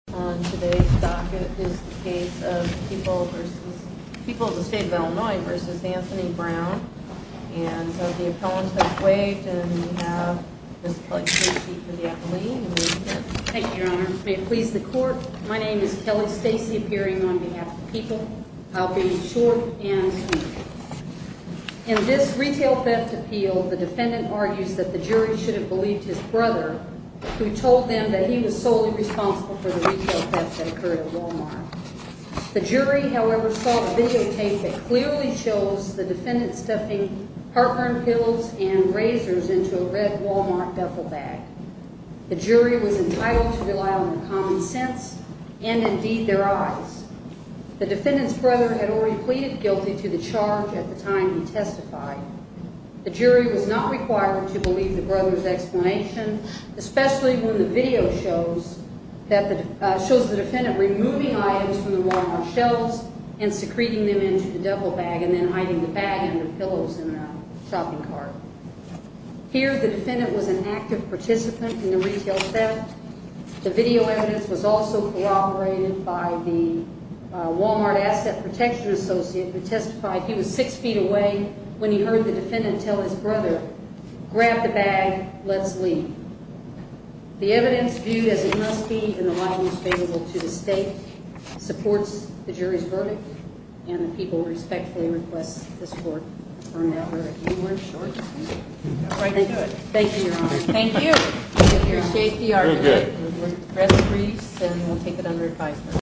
On today's docket is the case of People v. People of the State of Illinois v. Anthony Brown. And so the appellants have waived, and we have Ms. Kelly Stacey for the affilee. Thank you, Your Honor. May it please the Court, my name is Kelly Stacey, appearing on behalf of People. I'll be short and sweet. In this retail theft appeal, the defendant argues that the jury should have believed his brother, who told them that he was solely responsible for the retail theft that occurred at Walmart. The jury, however, saw the videotape that clearly shows the defendant stuffing heartburn pillows and razors into a red Walmart duffel bag. The jury was entitled to rely on common sense, and indeed their eyes. The defendant's brother had already pleaded guilty to the charge at the time he testified. The jury was not required to believe the brother's explanation, especially when the video shows the defendant removing items from the Walmart shelves and secreting them into the duffel bag and then hiding the bag under pillows in a shopping cart. Here, the defendant was an active participant in the retail theft. The video evidence was also corroborated by the Walmart Asset Protection Associate, who testified he was six feet away when he heard the defendant tell his brother, grab the bag, let's leave. The evidence, viewed as it must be in the light most favorable to the State, supports the jury's verdict, and the People respectfully request this Court confirm that verdict. You weren't short. Thank you, Your Honor. Thank you. We appreciate the argument. We're going to take it under advisement.